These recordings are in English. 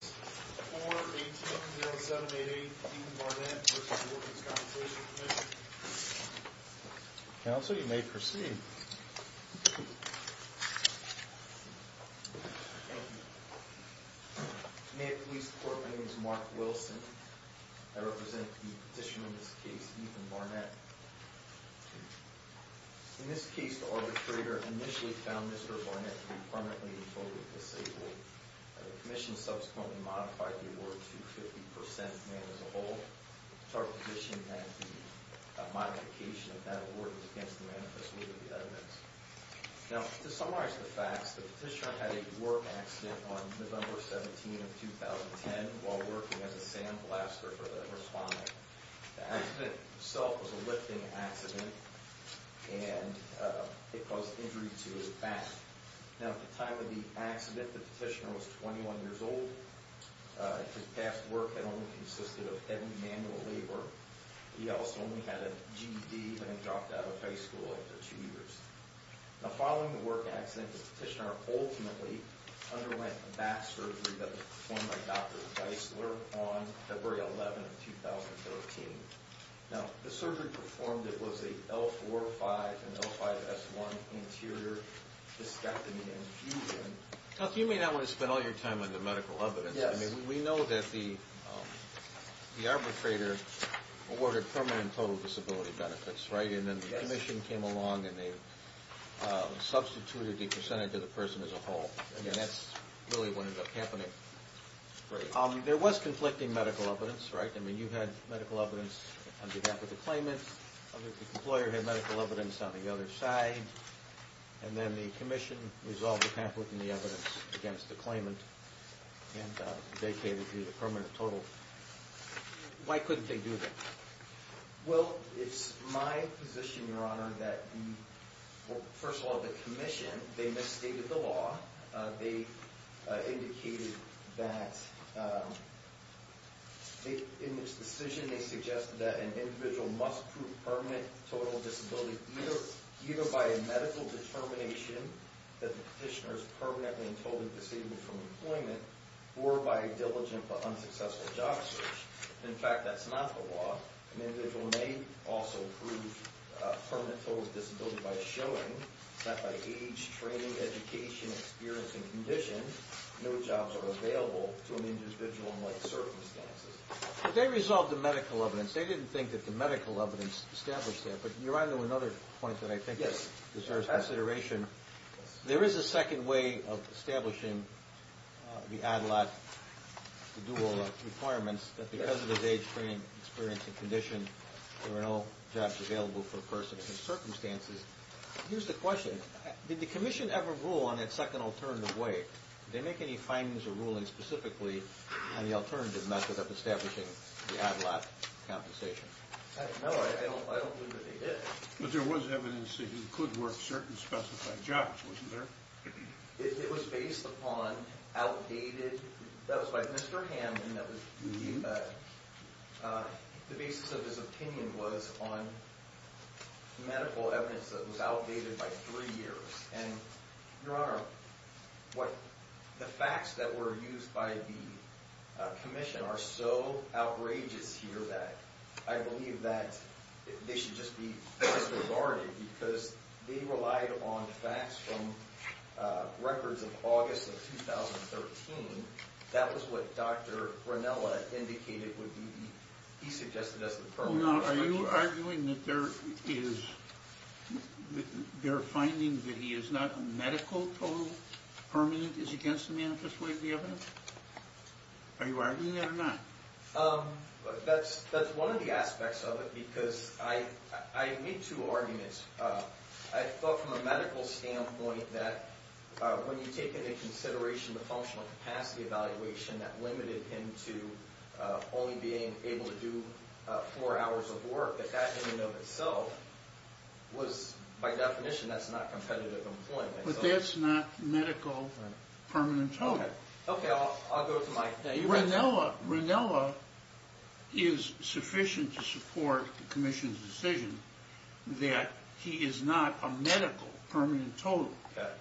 4-18-0788 Ethan Barnett v. The Workers' Compensation Commission Counsel, you may proceed. Thank you. May it please the court, my name is Mark Wilson. I represent the petitioner in this case, Ethan Barnett. In this case, the arbitrator initially found Mr. Barnett to be permanently and totally disabled. The commission subsequently modified the award to 50% man as a whole. It's our position that the modification of that award is against the manifest will of the evidence. Now, to summarize the facts, the petitioner had a work accident on November 17, 2010, while working as a sandblaster for the responding. The accident itself was a lifting accident, and it caused injury to his back. Now, at the time of the accident, the petitioner was 21 years old. His past work had only consisted of heavy manual labor. He also only had a GED when he dropped out of high school after two years. Now, following the work accident, the petitioner ultimately underwent a back surgery that was performed by Dr. Geisler on February 11, 2013. Now, the surgery performed, it was a L4-5 and L5-S1 anterior discectomy and fusion. Now, you may not want to spend all your time on the medical evidence. I mean, we know that the arbitrator awarded permanent and total disability benefits, right? And then the commission came along and they substituted the percentage of the person as a whole. I mean, that's really what ended up happening. There was conflicting medical evidence, right? I mean, you had medical evidence on behalf of the claimant. The employer had medical evidence on the other side. And then the commission resolved the pamphlet and the evidence against the claimant, and they gave you the permanent total. Why couldn't they do that? Well, it's my position, Your Honor, that first of all, the commission, they misstated the law. They indicated that in this decision, they suggested that an individual must prove permanent total disability, either by a medical determination that the petitioner is permanently and totally disabled from employment, or by a diligent but unsuccessful job search. In fact, that's not the law. An individual may also prove permanent total disability by showing that by age, training, education, experience, and conditions, no jobs are available to an individual in like circumstances. But they resolved the medical evidence. They didn't think that the medical evidence established that. But, Your Honor, to another point that I think deserves consideration, there is a second way of establishing the ADLAT, the dual requirements, that because of his age, training, experience, and condition, there are no jobs available for a person in circumstances. Here's the question. Did the commission ever rule on that second alternative way? Did they make any findings or rulings specifically on the alternative method of establishing the ADLAT compensation? No, I don't believe that they did. But there was evidence that he could work certain specified jobs, wasn't there? It was based upon outdated—that was by Mr. Hamden. The basis of his opinion was on medical evidence that was outdated by three years. And, Your Honor, the facts that were used by the commission are so outrageous here that I believe that they should just be disregarded because they relied on facts from records of August of 2013. That was what Dr. Ranella indicated would be—he suggested as the— Are you arguing that there is—their finding that he is not medical total permanent is against the manifest way of the evidence? Are you arguing that or not? That's one of the aspects of it because I made two arguments. I thought from a medical standpoint that when you take into consideration the functional capacity evaluation that limited him to only being able to do four hours of work, that that in and of itself was, by definition, that's not competitive employment. But that's not medical permanent total. Okay, I'll go to my— Ranella is sufficient to support the commission's decision that he is not a medical permanent total.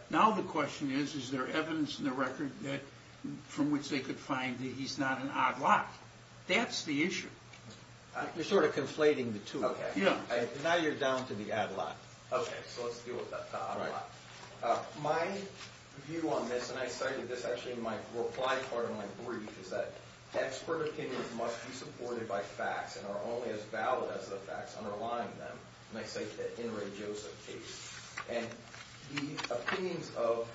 Now the question is, is there evidence in the record from which they could find that he's not an odd lot? That's the issue. You're sort of conflating the two. Yeah. Now you're down to the odd lot. Okay, so let's deal with the odd lot. My view on this, and I cited this actually in my reply to part of my brief, is that expert opinions must be supported by facts and are only as valid as the facts underlying them. And I cite the Inouye Joseph case. And the opinions of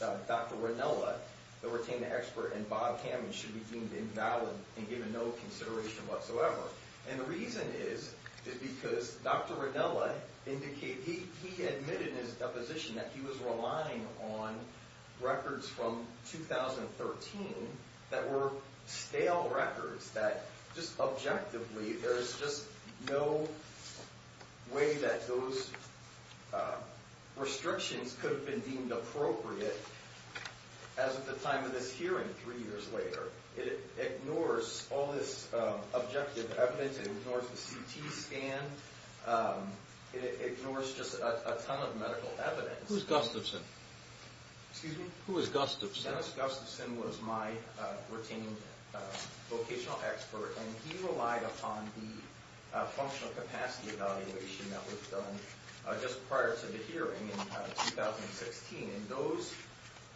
Dr. Ranella, the retained expert, and Bob Kamen should be deemed invalid and given no consideration whatsoever. And the reason is, is because Dr. Ranella indicated—he admitted in his deposition that he was relying on records from 2013 that were stale records, that just objectively there is just no way that those restrictions could have been deemed appropriate as at the time of this hearing three years later. It ignores all this objective evidence. It ignores the CT scan. It ignores just a ton of medical evidence. Who is Gustafson? Excuse me? Who is Gustafson? Dennis Gustafson was my retained vocational expert, and he relied upon the functional capacity evaluation that was done just prior to the hearing in 2016. And those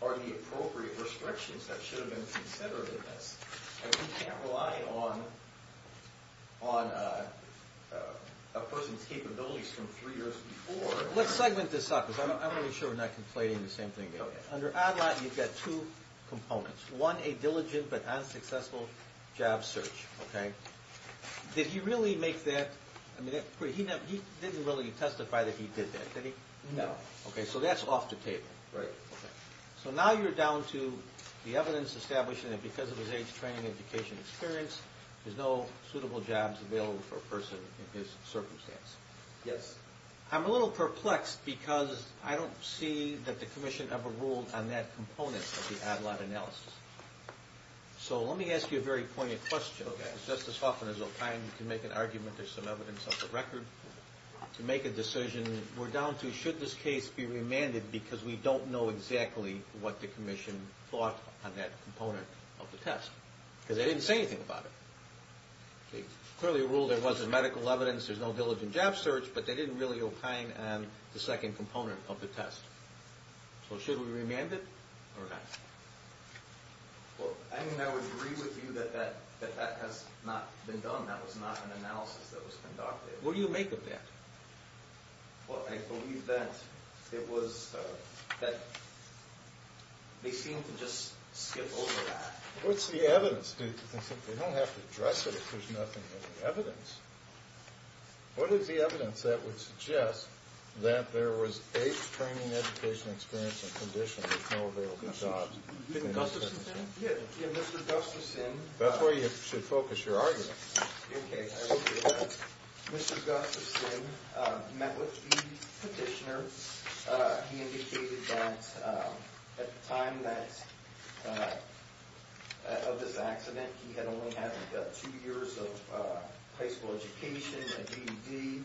are the appropriate restrictions that should have been considered in this. And we can't rely on a person's capabilities from three years before. Let's segment this out, because I want to be sure we're not complaining the same thing again. Under ADLAT, you've got two components. One, a diligent but unsuccessful job search, okay? Did he really make that—he didn't really testify that he did that, did he? No. Okay, so that's off the table, right? Okay. So now you're down to the evidence establishing that because of his age, training, and education experience, there's no suitable jobs available for a person in his circumstance. Yes. I'm a little perplexed because I don't see that the commission ever ruled on that component of the ADLAT analysis. So let me ask you a very poignant question. Okay. Just as often as I'll find you can make an argument, there's some evidence on the record. To make a decision, we're down to should this case be remanded, because we don't know exactly what the commission thought on that component of the test, because they didn't say anything about it. Clearly it ruled there wasn't medical evidence, there's no diligent job search, but they didn't really opine on the second component of the test. So should we remand it or not? I mean, I would agree with you that that has not been done. That was not an analysis that was conducted. What do you make of that? Well, I believe that it was that they seemed to just skip over that. What's the evidence? They don't have to address it if there's nothing in the evidence. What is the evidence that would suggest that there was age, training, education, experience, and conditions with no available jobs? Mr. Gustafson? Yeah, Mr. Gustafson. That's where you should focus your argument. Okay, I will do that. Mr. Gustafson met with the petitioner. He indicated that at the time of this accident, he had only had two years of high school education and GED,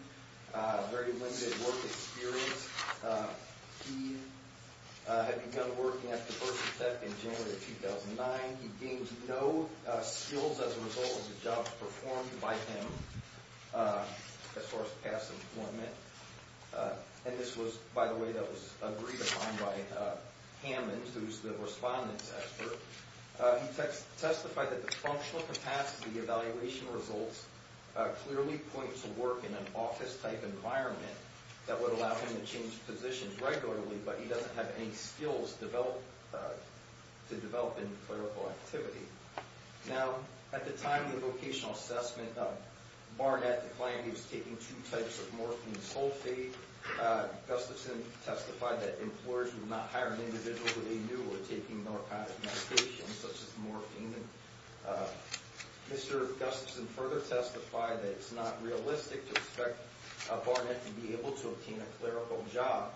very limited work experience. He had begun working at the birth center in January of 2009. He gained no skills as a result of the jobs performed by him as far as past employment. And this was, by the way, that was agreed upon by Hammond, who's the respondent's expert. He testified that the functional capacity evaluation results clearly point to work in an office-type environment that would allow him to change positions regularly, but he doesn't have any skills to develop in clerical activity. Now, at the time of the vocational assessment, Barnett declined. He was taking two types of morphine sulfate. Gustafson testified that employers would not hire an individual who they knew were taking narcotic medications such as morphine. Mr. Gustafson further testified that it's not realistic to expect Barnett to be able to obtain a clerical job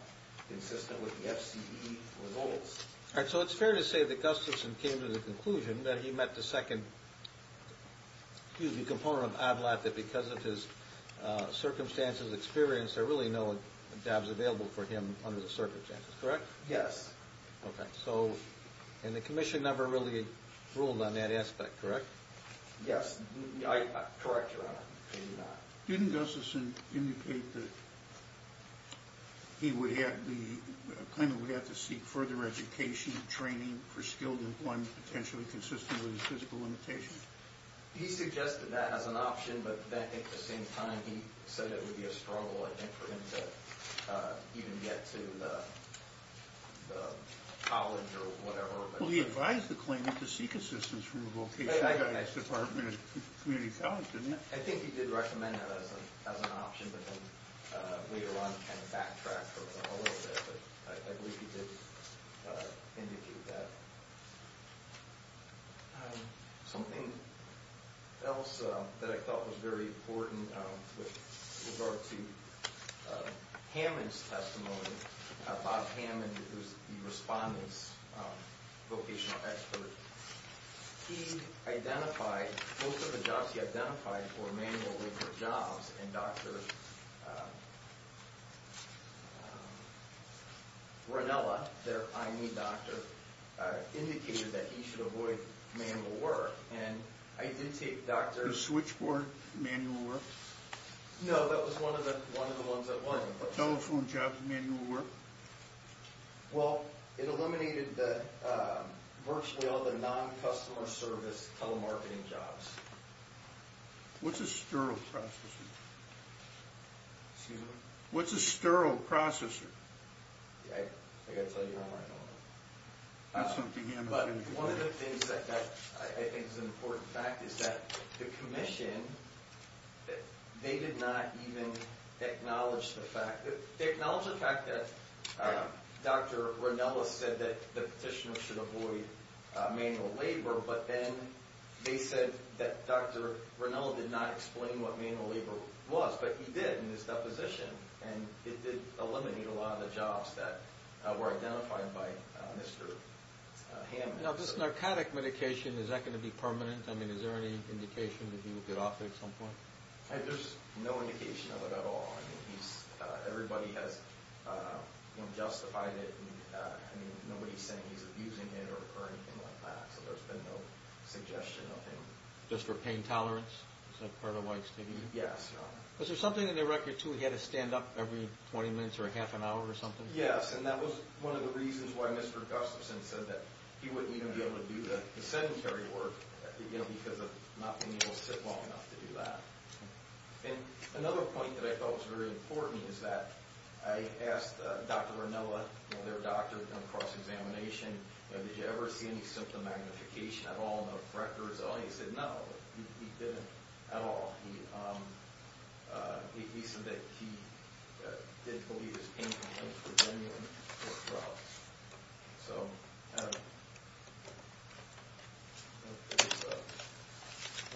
consistent with the FCDE results. All right, so it's fair to say that Gustafson came to the conclusion that he met the second, excuse me, component of OBLAT, that because of his circumstances, experience, there are really no jobs available for him under the circumstances, correct? Yes. Okay. And the commission never really ruled on that aspect, correct? Yes. Correct, Your Honor. Didn't Gustafson indicate that he would have to seek further education, training for skilled employment potentially consistent with his physical limitations? He suggested that as an option, but at the same time he said it would be a struggle, I think, for him to even get to college or whatever. Well, he advised the claimant to seek assistance from a vocational guidance department at a community college, didn't he? I think he did recommend that as an option, but then later on kind of backtracked for a little bit. But I believe he did indicate that. Something else that I thought was very important with regard to Hammond's testimony, Bob Hammond, who's the respondent's vocational expert, he identified, most of the jobs he identified were manual labor jobs, and Dr. Ranella, their I.N.E. doctor, indicated that he should avoid manual work, and I did take Dr. The switchboard manual work? No, that was one of the ones that wasn't. Telephone jobs, manual work? Well, it eliminated virtually all the non-customer service telemarketing jobs. What's a sterile processor? Excuse me? What's a sterile processor? I've got to tell you one more. One of the things that I think is an important fact is that the commission, they did not even acknowledge the fact that Dr. Ranella said that the petitioner should avoid manual labor, but then they said that Dr. Ranella did not explain what manual labor was, but he did in his deposition, and it did eliminate a lot of the jobs that were identified by Mr. Hammond. Now, this narcotic medication, is that going to be permanent? I mean, is there any indication that he will get off it at some point? There's no indication of it at all. I mean, everybody has justified it. I mean, nobody's saying he's abusing it or anything like that, so there's been no suggestion of him. Just for pain tolerance? Is that part of why it's taken? Yes, Your Honor. Was there something in the record, too, he had to stand up every 20 minutes or half an hour or something? Yes, and that was one of the reasons why Mr. Gustafson said that he wouldn't even be able to do the sedentary work because of not being able to sit long enough to do that. And another point that I felt was very important is that I asked Dr. Ranella, their doctor in cross-examination, did you ever see any symptom magnification at all in the records? He said no, he didn't at all. He said that he didn't believe his pain complaints were genuine or fraud. So if there's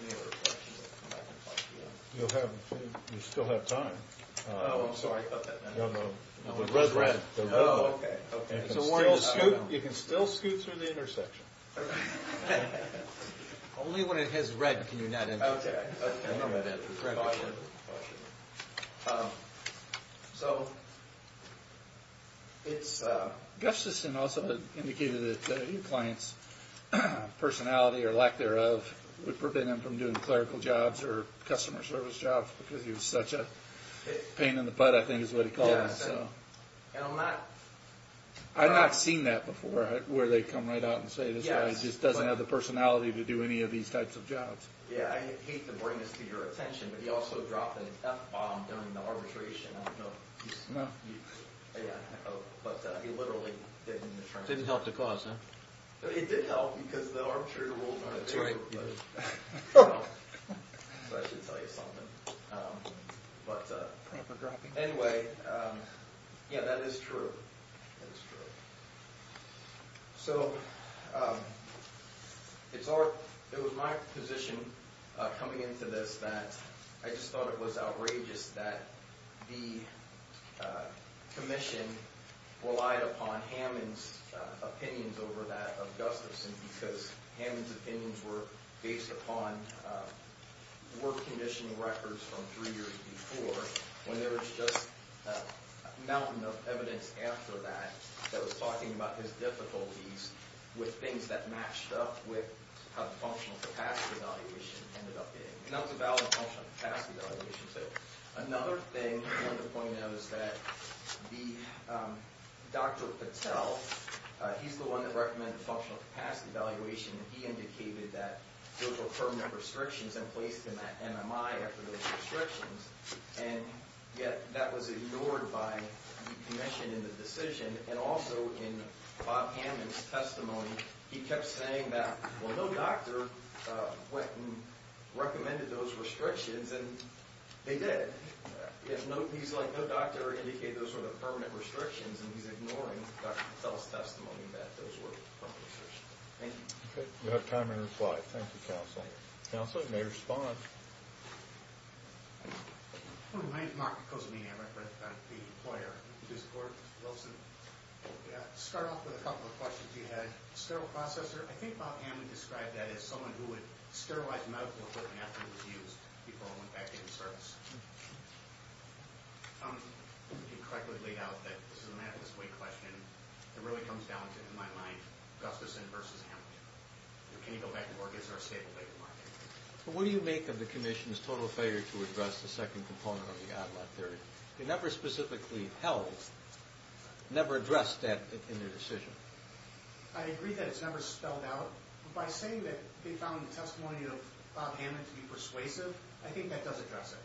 any other questions, I'll come back and talk to you. You still have time. Oh, I'm sorry about that. No, no, the red one. Oh, okay, okay. You can still scoot through the intersection. Only when it has red can you not enter. Okay, okay. So it's – Gustafson also indicated that the client's personality or lack thereof would prevent him from doing clerical jobs or customer service jobs because he was such a pain in the butt, I think is what he called him. Yes, and I'm not – I've not seen that before where they come right out and say this guy just doesn't have the personality to do any of these types of jobs. Yeah, I hate to bring this to your attention, but he also dropped an F-bomb during the arbitration. I don't know if you – No. Yeah, but he literally did in the trial. Didn't help the cause, huh? It did help because the arbitrary rules were in favor of it. That's right. So I should tell you something. But anyway, yeah, that is true. That is true. So it was my position coming into this that I just thought it was outrageous that the commission relied upon Hammond's opinions over that of Gustafson because Hammond's opinions were based upon work condition records from three years before when there was just a mountain of evidence after that that was talking about his difficulties with things that matched up with how the functional capacity evaluation ended up being. And that was a valid functional capacity evaluation. Another thing I wanted to point out is that the – Dr. Patel, he's the one that recommended functional capacity evaluation, and he indicated that there were permanent restrictions in place in that MMI after those restrictions. And yet that was ignored by the commission in the decision. And also in Bob Hammond's testimony, he kept saying that, well, no doctor went and recommended those restrictions. And they did. He's like, no doctor indicated those were the permanent restrictions, and he's ignoring Dr. Patel's testimony that those were permanent restrictions. Thank you. Okay. We have time for a reply. Thank you, Counsel. Counsel, you may respond. My name is Mark Kozmian. I'm the employer. I support Wilson. To start off with a couple of questions you had. Sterile processor. I think Bob Hammond described that as someone who would sterilize a medical equipment after it was used before it went back into service. You correctly laid out that this is a math this way question. It really comes down to, in my mind, Gustafson versus Hammond. Can you go back and forth? It's our stable data, Mark. What do you make of the commission's total failure to address the second component of the odd lot theory? They never specifically held, never addressed that in their decision. I agree that it's never spelled out, but by saying that they found the testimony of Bob Hammond to be persuasive, I think that does address it.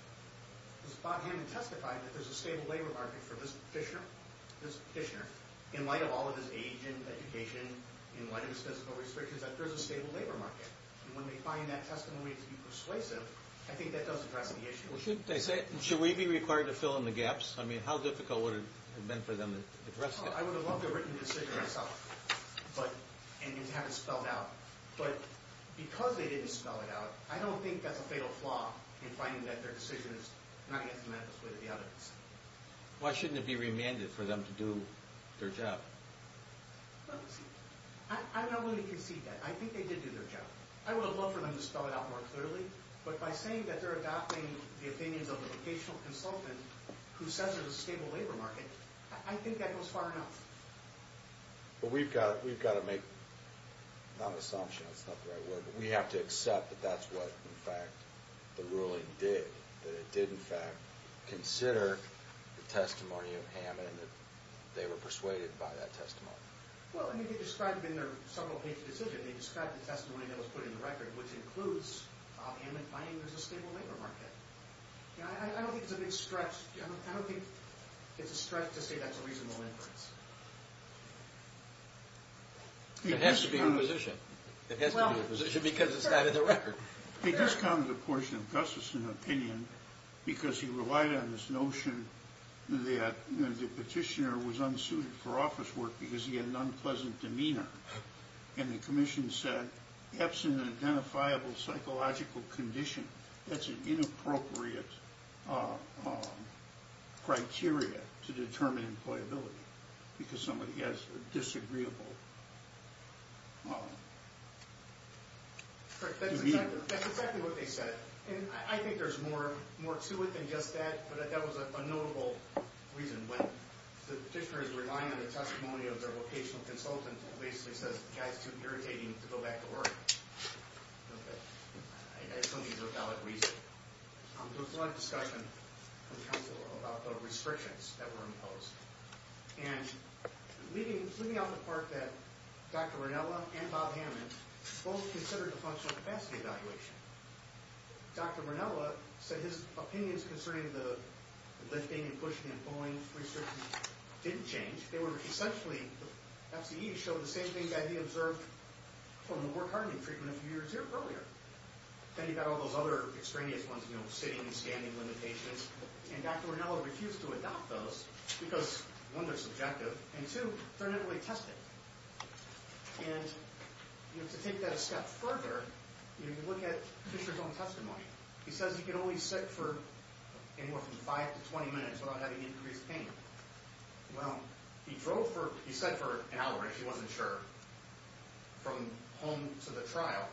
Because Bob Hammond testified that there's a stable labor market for this fissure, this fissure, in light of all of this age and education, in light of these physical restrictions, that there's a stable labor market. And when they find that testimony to be persuasive, I think that does address the issue. Should we be required to fill in the gaps? I mean, how difficult would it have been for them to address that? I would have loved to have written the decision myself and have it spelled out. But because they didn't spell it out, I don't think that's a fatal flaw in finding that their decision is not against the math this way that the others did. Why shouldn't it be remanded for them to do their job? I'm not willing to concede that. I think they did do their job. I would have loved for them to spell it out more clearly. But by saying that they're adopting the opinions of a vocational consultant who says there's a stable labor market, I think that goes far enough. But we've got to make not an assumption. That's not the right word. But we have to accept that that's what, in fact, the ruling did, that it did, in fact, consider the testimony of Hammond and that they were persuaded by that testimony. Well, I mean, they described it in their several-page decision. They described the testimony that was put in the record, which includes Hammond finding there's a stable labor market. I don't think it's a big stretch. I don't think it's a stretch to say that's a reasonable inference. It has to be inquisition. It has to be inquisition because it's not in the record. They discounted a portion of Gustafson's opinion because he relied on this notion that the petitioner was unsuited for office work because he had an unpleasant demeanor. And the commission said, absent an identifiable psychological condition, that's an inappropriate criteria to determine employability because somebody has a disagreeable demeanor. That's exactly what they said. And I think there's more to it than just that, but that was a notable reason when the petitioner is relying on the testimony of their vocational consultant, basically says the guy's too irritating to go back to work. Okay. I assume he's without reason. There was a lot of discussion in the council about the restrictions that were imposed. And leaving out the part that Dr. Ranella and Bob Hammond both considered the functional capacity evaluation, Dr. Ranella said his opinions concerning the lifting and pushing and pulling restrictions didn't change. They were essentially, the FCE showed the same thing that he observed from the work hardening treatment a few years earlier. Then he got all those other extraneous ones, you know, sitting and standing limitations, and Dr. Ranella refused to adopt those because, one, they're subjective, and two, they're not really tested. And, you know, to take that a step further, you know, you look at Fisher's own testimony. He says you can only sit for anywhere from 5 to 20 minutes without having increased pain. Well, he drove for, he sat for an hour, he wasn't sure, from home to the trial,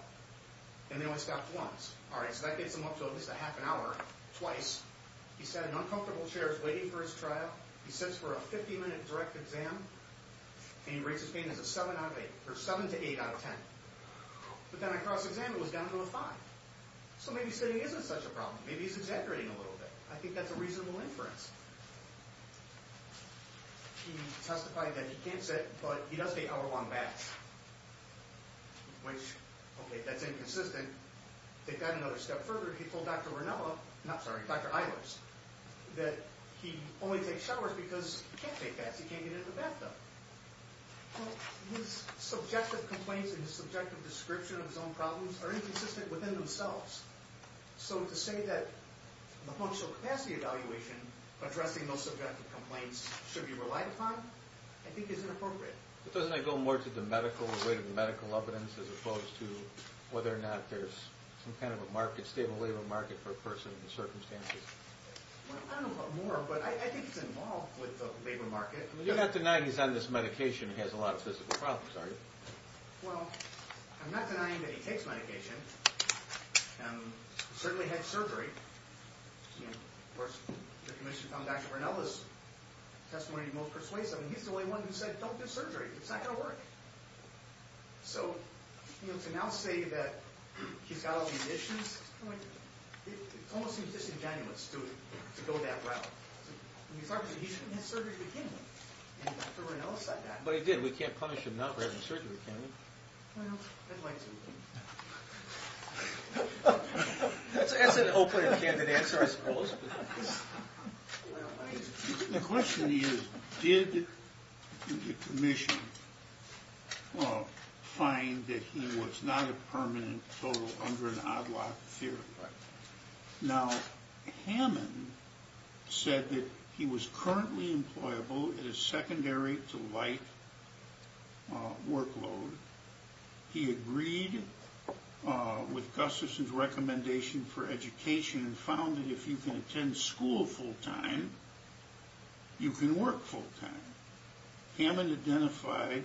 and they only stopped once. All right, so that gets him up to at least a half an hour, twice. He sat in uncomfortable chairs waiting for his trial. He sits for a 50-minute direct exam, and he rates his pain as a 7 out of 8, or 7 to 8 out of 10. But then on a cross-exam, it was down to a 5. So maybe sitting isn't such a problem. Maybe he's exaggerating a little bit. I think that's a reasonable inference. He testified that he can't sit, but he does take hour-long baths, which, okay, that's inconsistent. And to take that another step further, he told Dr. Ronella, I'm sorry, Dr. Eilers, that he only takes showers because he can't take baths, he can't get in the bathtub. Well, his subjective complaints and his subjective description of his own problems are inconsistent within themselves. So to say that the functional capacity evaluation, addressing those subjective complaints, should be relied upon, I think is inappropriate. But doesn't that go more to the medical, the weight of the medical evidence, as opposed to whether or not there's some kind of a market, stable labor market for a person in the circumstances? Well, I don't know about more, but I think it's involved with the labor market. You're not denying he's on this medication and he has a lot of physical problems, are you? Well, I'm not denying that he takes medication. He certainly had surgery. Of course, the commission found Dr. Ronella's testimony most persuasive. He's the only one who said, don't do surgery, it's not going to work. So to now say that he's got all these issues, it almost seems disingenuous to go that route. He shouldn't have surgery with him, and Dr. Ronella said that. But he did. We can't punish him now for having surgery, can we? Well, I'd like to. That's an open and candid answer, I suppose. The question is, did the commission find that he was not a permanent total under an odd-lock theory? Now, Hammond said that he was currently employable in a secondary to light workload. He agreed with Gustafson's recommendation for education and found that if you can attend school full-time, you can work full-time. Hammond identified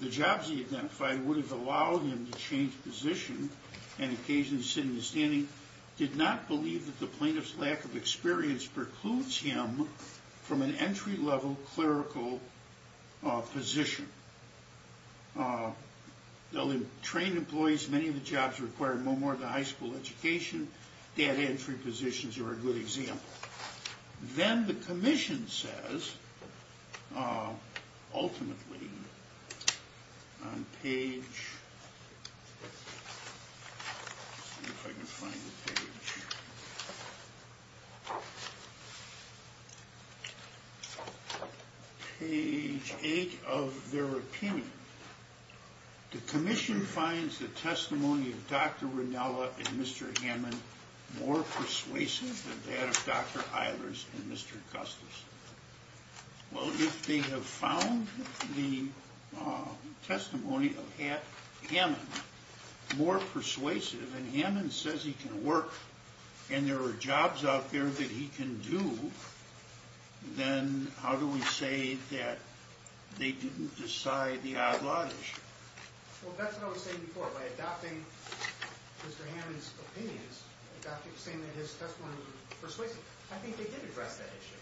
the jobs he identified would have allowed him to change position and occasionally sit in the standing. He did not believe that the plaintiff's lack of experience precludes him from an entry-level clerical position. They'll train employees. Many of the jobs require more of the high school education. That entry position is a good example. Then the commission says, ultimately, on page 8 of their opinion, the commission finds the testimony of Dr. Ranella and Mr. Hammond more persuasive than that of Dr. Eilers and Mr. Gustafson. Well, if they have found the testimony of Hammond more persuasive, and Hammond says he can work and there are jobs out there that he can do, then how do we say that they didn't decide the odd-lot issue? Well, that's what I was saying before. By adopting Mr. Hammond's opinions, saying that his testimony was persuasive, I think they did address that issue.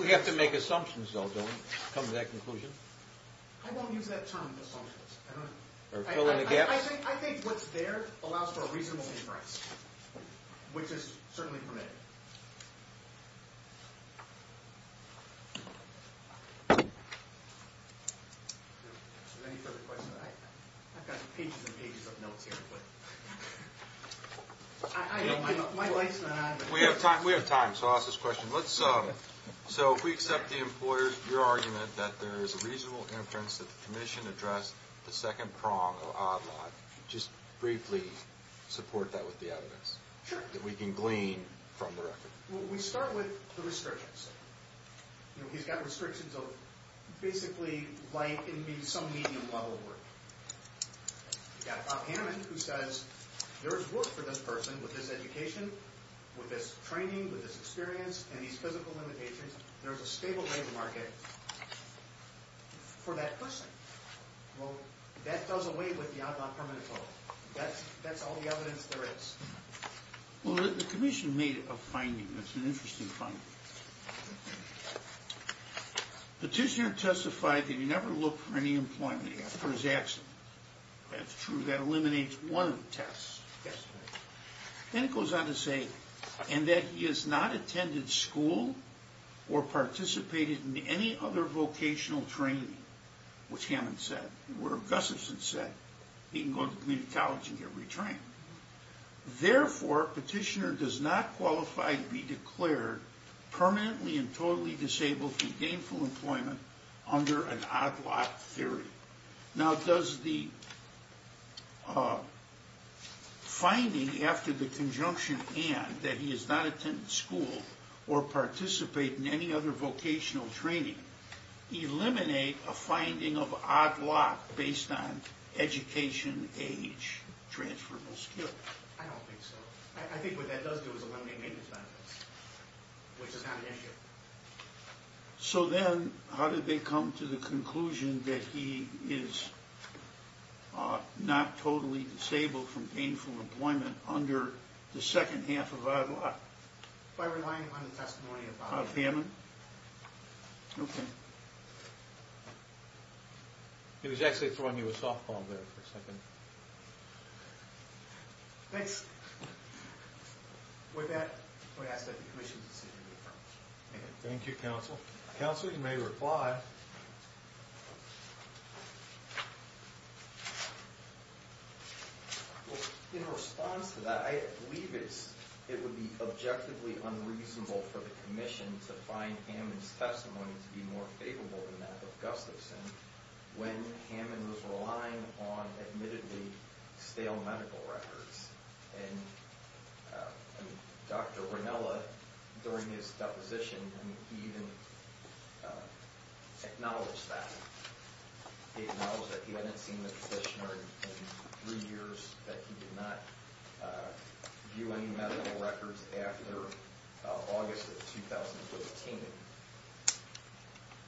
We have to make assumptions, though, don't we, come to that conclusion? I won't use that term, assumptions. Or fill in the gaps? I think what's there allows for a reasonable inference, which is certainly permitted. Any further questions? I've got pages and pages of notes here. We have time, so I'll ask this question. So if we accept the employer's argument that there is a reasonable inference that the commission addressed the second prong of odd-lot, just briefly support that with the evidence that we can glean from the record? Well, we start with the restrictions. He's got restrictions of basically light and maybe some medium-level work. You've got Bob Hammond who says there is work for this person with this education, with this training, with this experience, and these physical limitations. There's a stable labor market for that person. Well, that doesn't wait with the odd-lot permanent vote. That's all the evidence there is. Well, the commission made a finding. It's an interesting finding. Petitioner testified that he never looked for any employment after his accident. That's true. That eliminates one of the tests. Then it goes on to say, and that he has not attended school or participated in any other vocational training, which Hammond said, or Gustafson said, he can go to community college and get retrained. Therefore, petitioner does not qualify to be declared permanently and totally disabled from gainful employment under an odd-lot theory. Now, does the finding after the conjunction and, that he has not attended school or participated in any other vocational training, eliminate a finding of odd-lot based on education, age, transferable skills? I don't think so. I think what that does do is eliminate maintenance benefits, which is not an issue. So then, how did they come to the conclusion that he is not totally disabled from gainful employment under the second half of odd-lot? By relying on the testimony of Hammond. Of Hammond. Okay. He was actually throwing you a softball there for a second. Thanks. With that, I'm going to ask that the Commission consider the affirmative. Thank you, Counsel. Counsel, you may reply. Well, in response to that, I believe it would be objectively unreasonable for the Commission to find Hammond's testimony to be more favorable than that of Gustafson, when Hammond was relying on admittedly stale medical records. And Dr. Ranella, during his deposition, even acknowledged that. He acknowledged that he hadn't seen the physician in three years, that he did not view any medical records after August of 2015.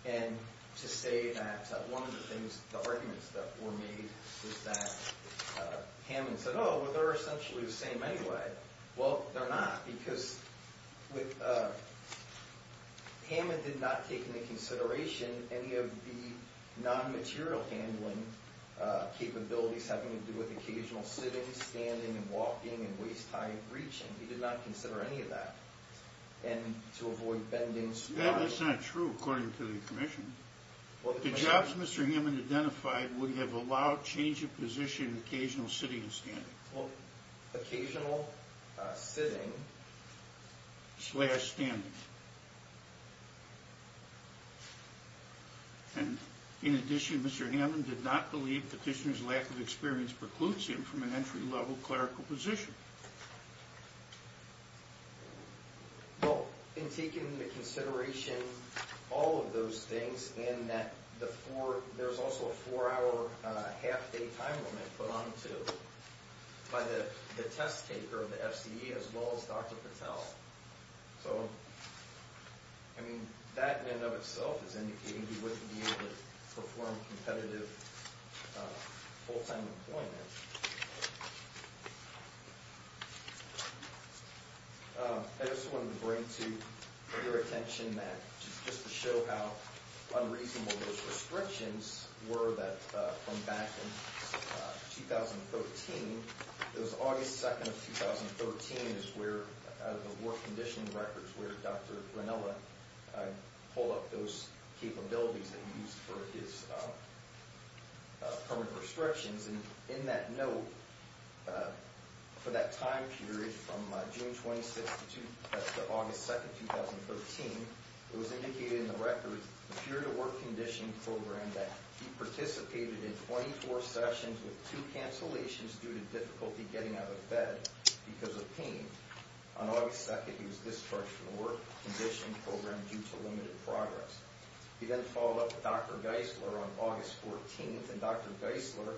And to say that one of the arguments that were made was that Hammond said, oh, well, they're essentially the same anyway. Well, they're not, because Hammond did not take into consideration any of the non-material handling capabilities having to do with occasional sitting, standing, and walking, and waist-high reaching. He did not consider any of that. And to avoid bending the slide. That's not true, according to the Commission. The jobs Mr. Hammond identified would have allowed change of position in occasional sitting and standing. Occasional sitting. Slash standing. And in addition, Mr. Hammond did not believe the petitioner's lack of experience precludes him from an entry-level clerical position. Well, in taking into consideration all of those things, and that there's also a four-hour half-day time limit put onto by the test taker of the FCE, as well as Dr. Patel. So, I mean, that in and of itself is indicating he wouldn't be able to perform competitive full-time employment. I just wanted to bring to your attention that, just to show how unreasonable those restrictions were from back in 2013. It was August 2nd of 2013 is where, out of the work conditioning records, where Dr. Grinella pulled up those capabilities that he used for his permanent restrictions. And in that note, for that time period from June 26th to August 2nd, 2013, it was indicated in the record, the period of work conditioning program, that he participated in 24 sessions with two cancellations due to difficulty getting out of bed because of pain. On August 2nd, he was discharged from the work conditioning program due to limited progress. He then followed up with Dr. Geisler on August 14th, and Dr. Geisler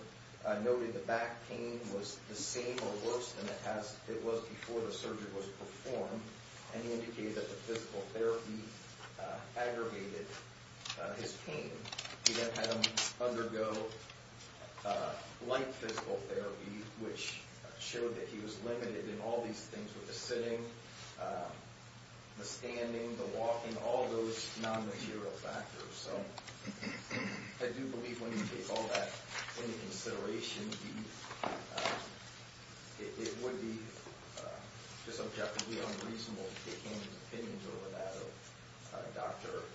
noted the back pain was the same or worse than it was before the surgery was performed, and he indicated that the physical therapy aggregated his pain. He then had him undergo light physical therapy, which showed that he was limited in all these things with the sitting, the standing, the walking, all those non-material factors. So, I do believe when you take all that into consideration, it would be just objectively unreasonable to take any opinions over that of Dr.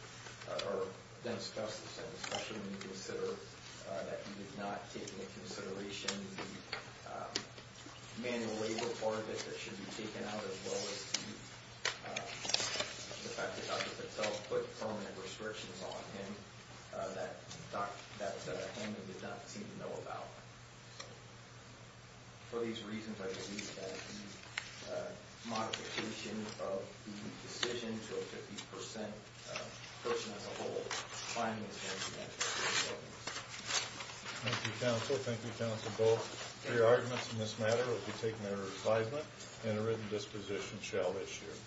or then discuss this, and especially when you consider that he did not take into consideration the manual labor part of it that should be taken out, as well as the fact that Dr. Patel put permanent restrictions on. And that was something that Dr. Holman did not seem to know about. So, for these reasons, I believe that the modification of the decision to a 50% person as a whole finding is going to be necessary. Thank you, counsel. Thank you, counsel, both. Your arguments in this matter will be taken under advisement, and a written disposition shall issue.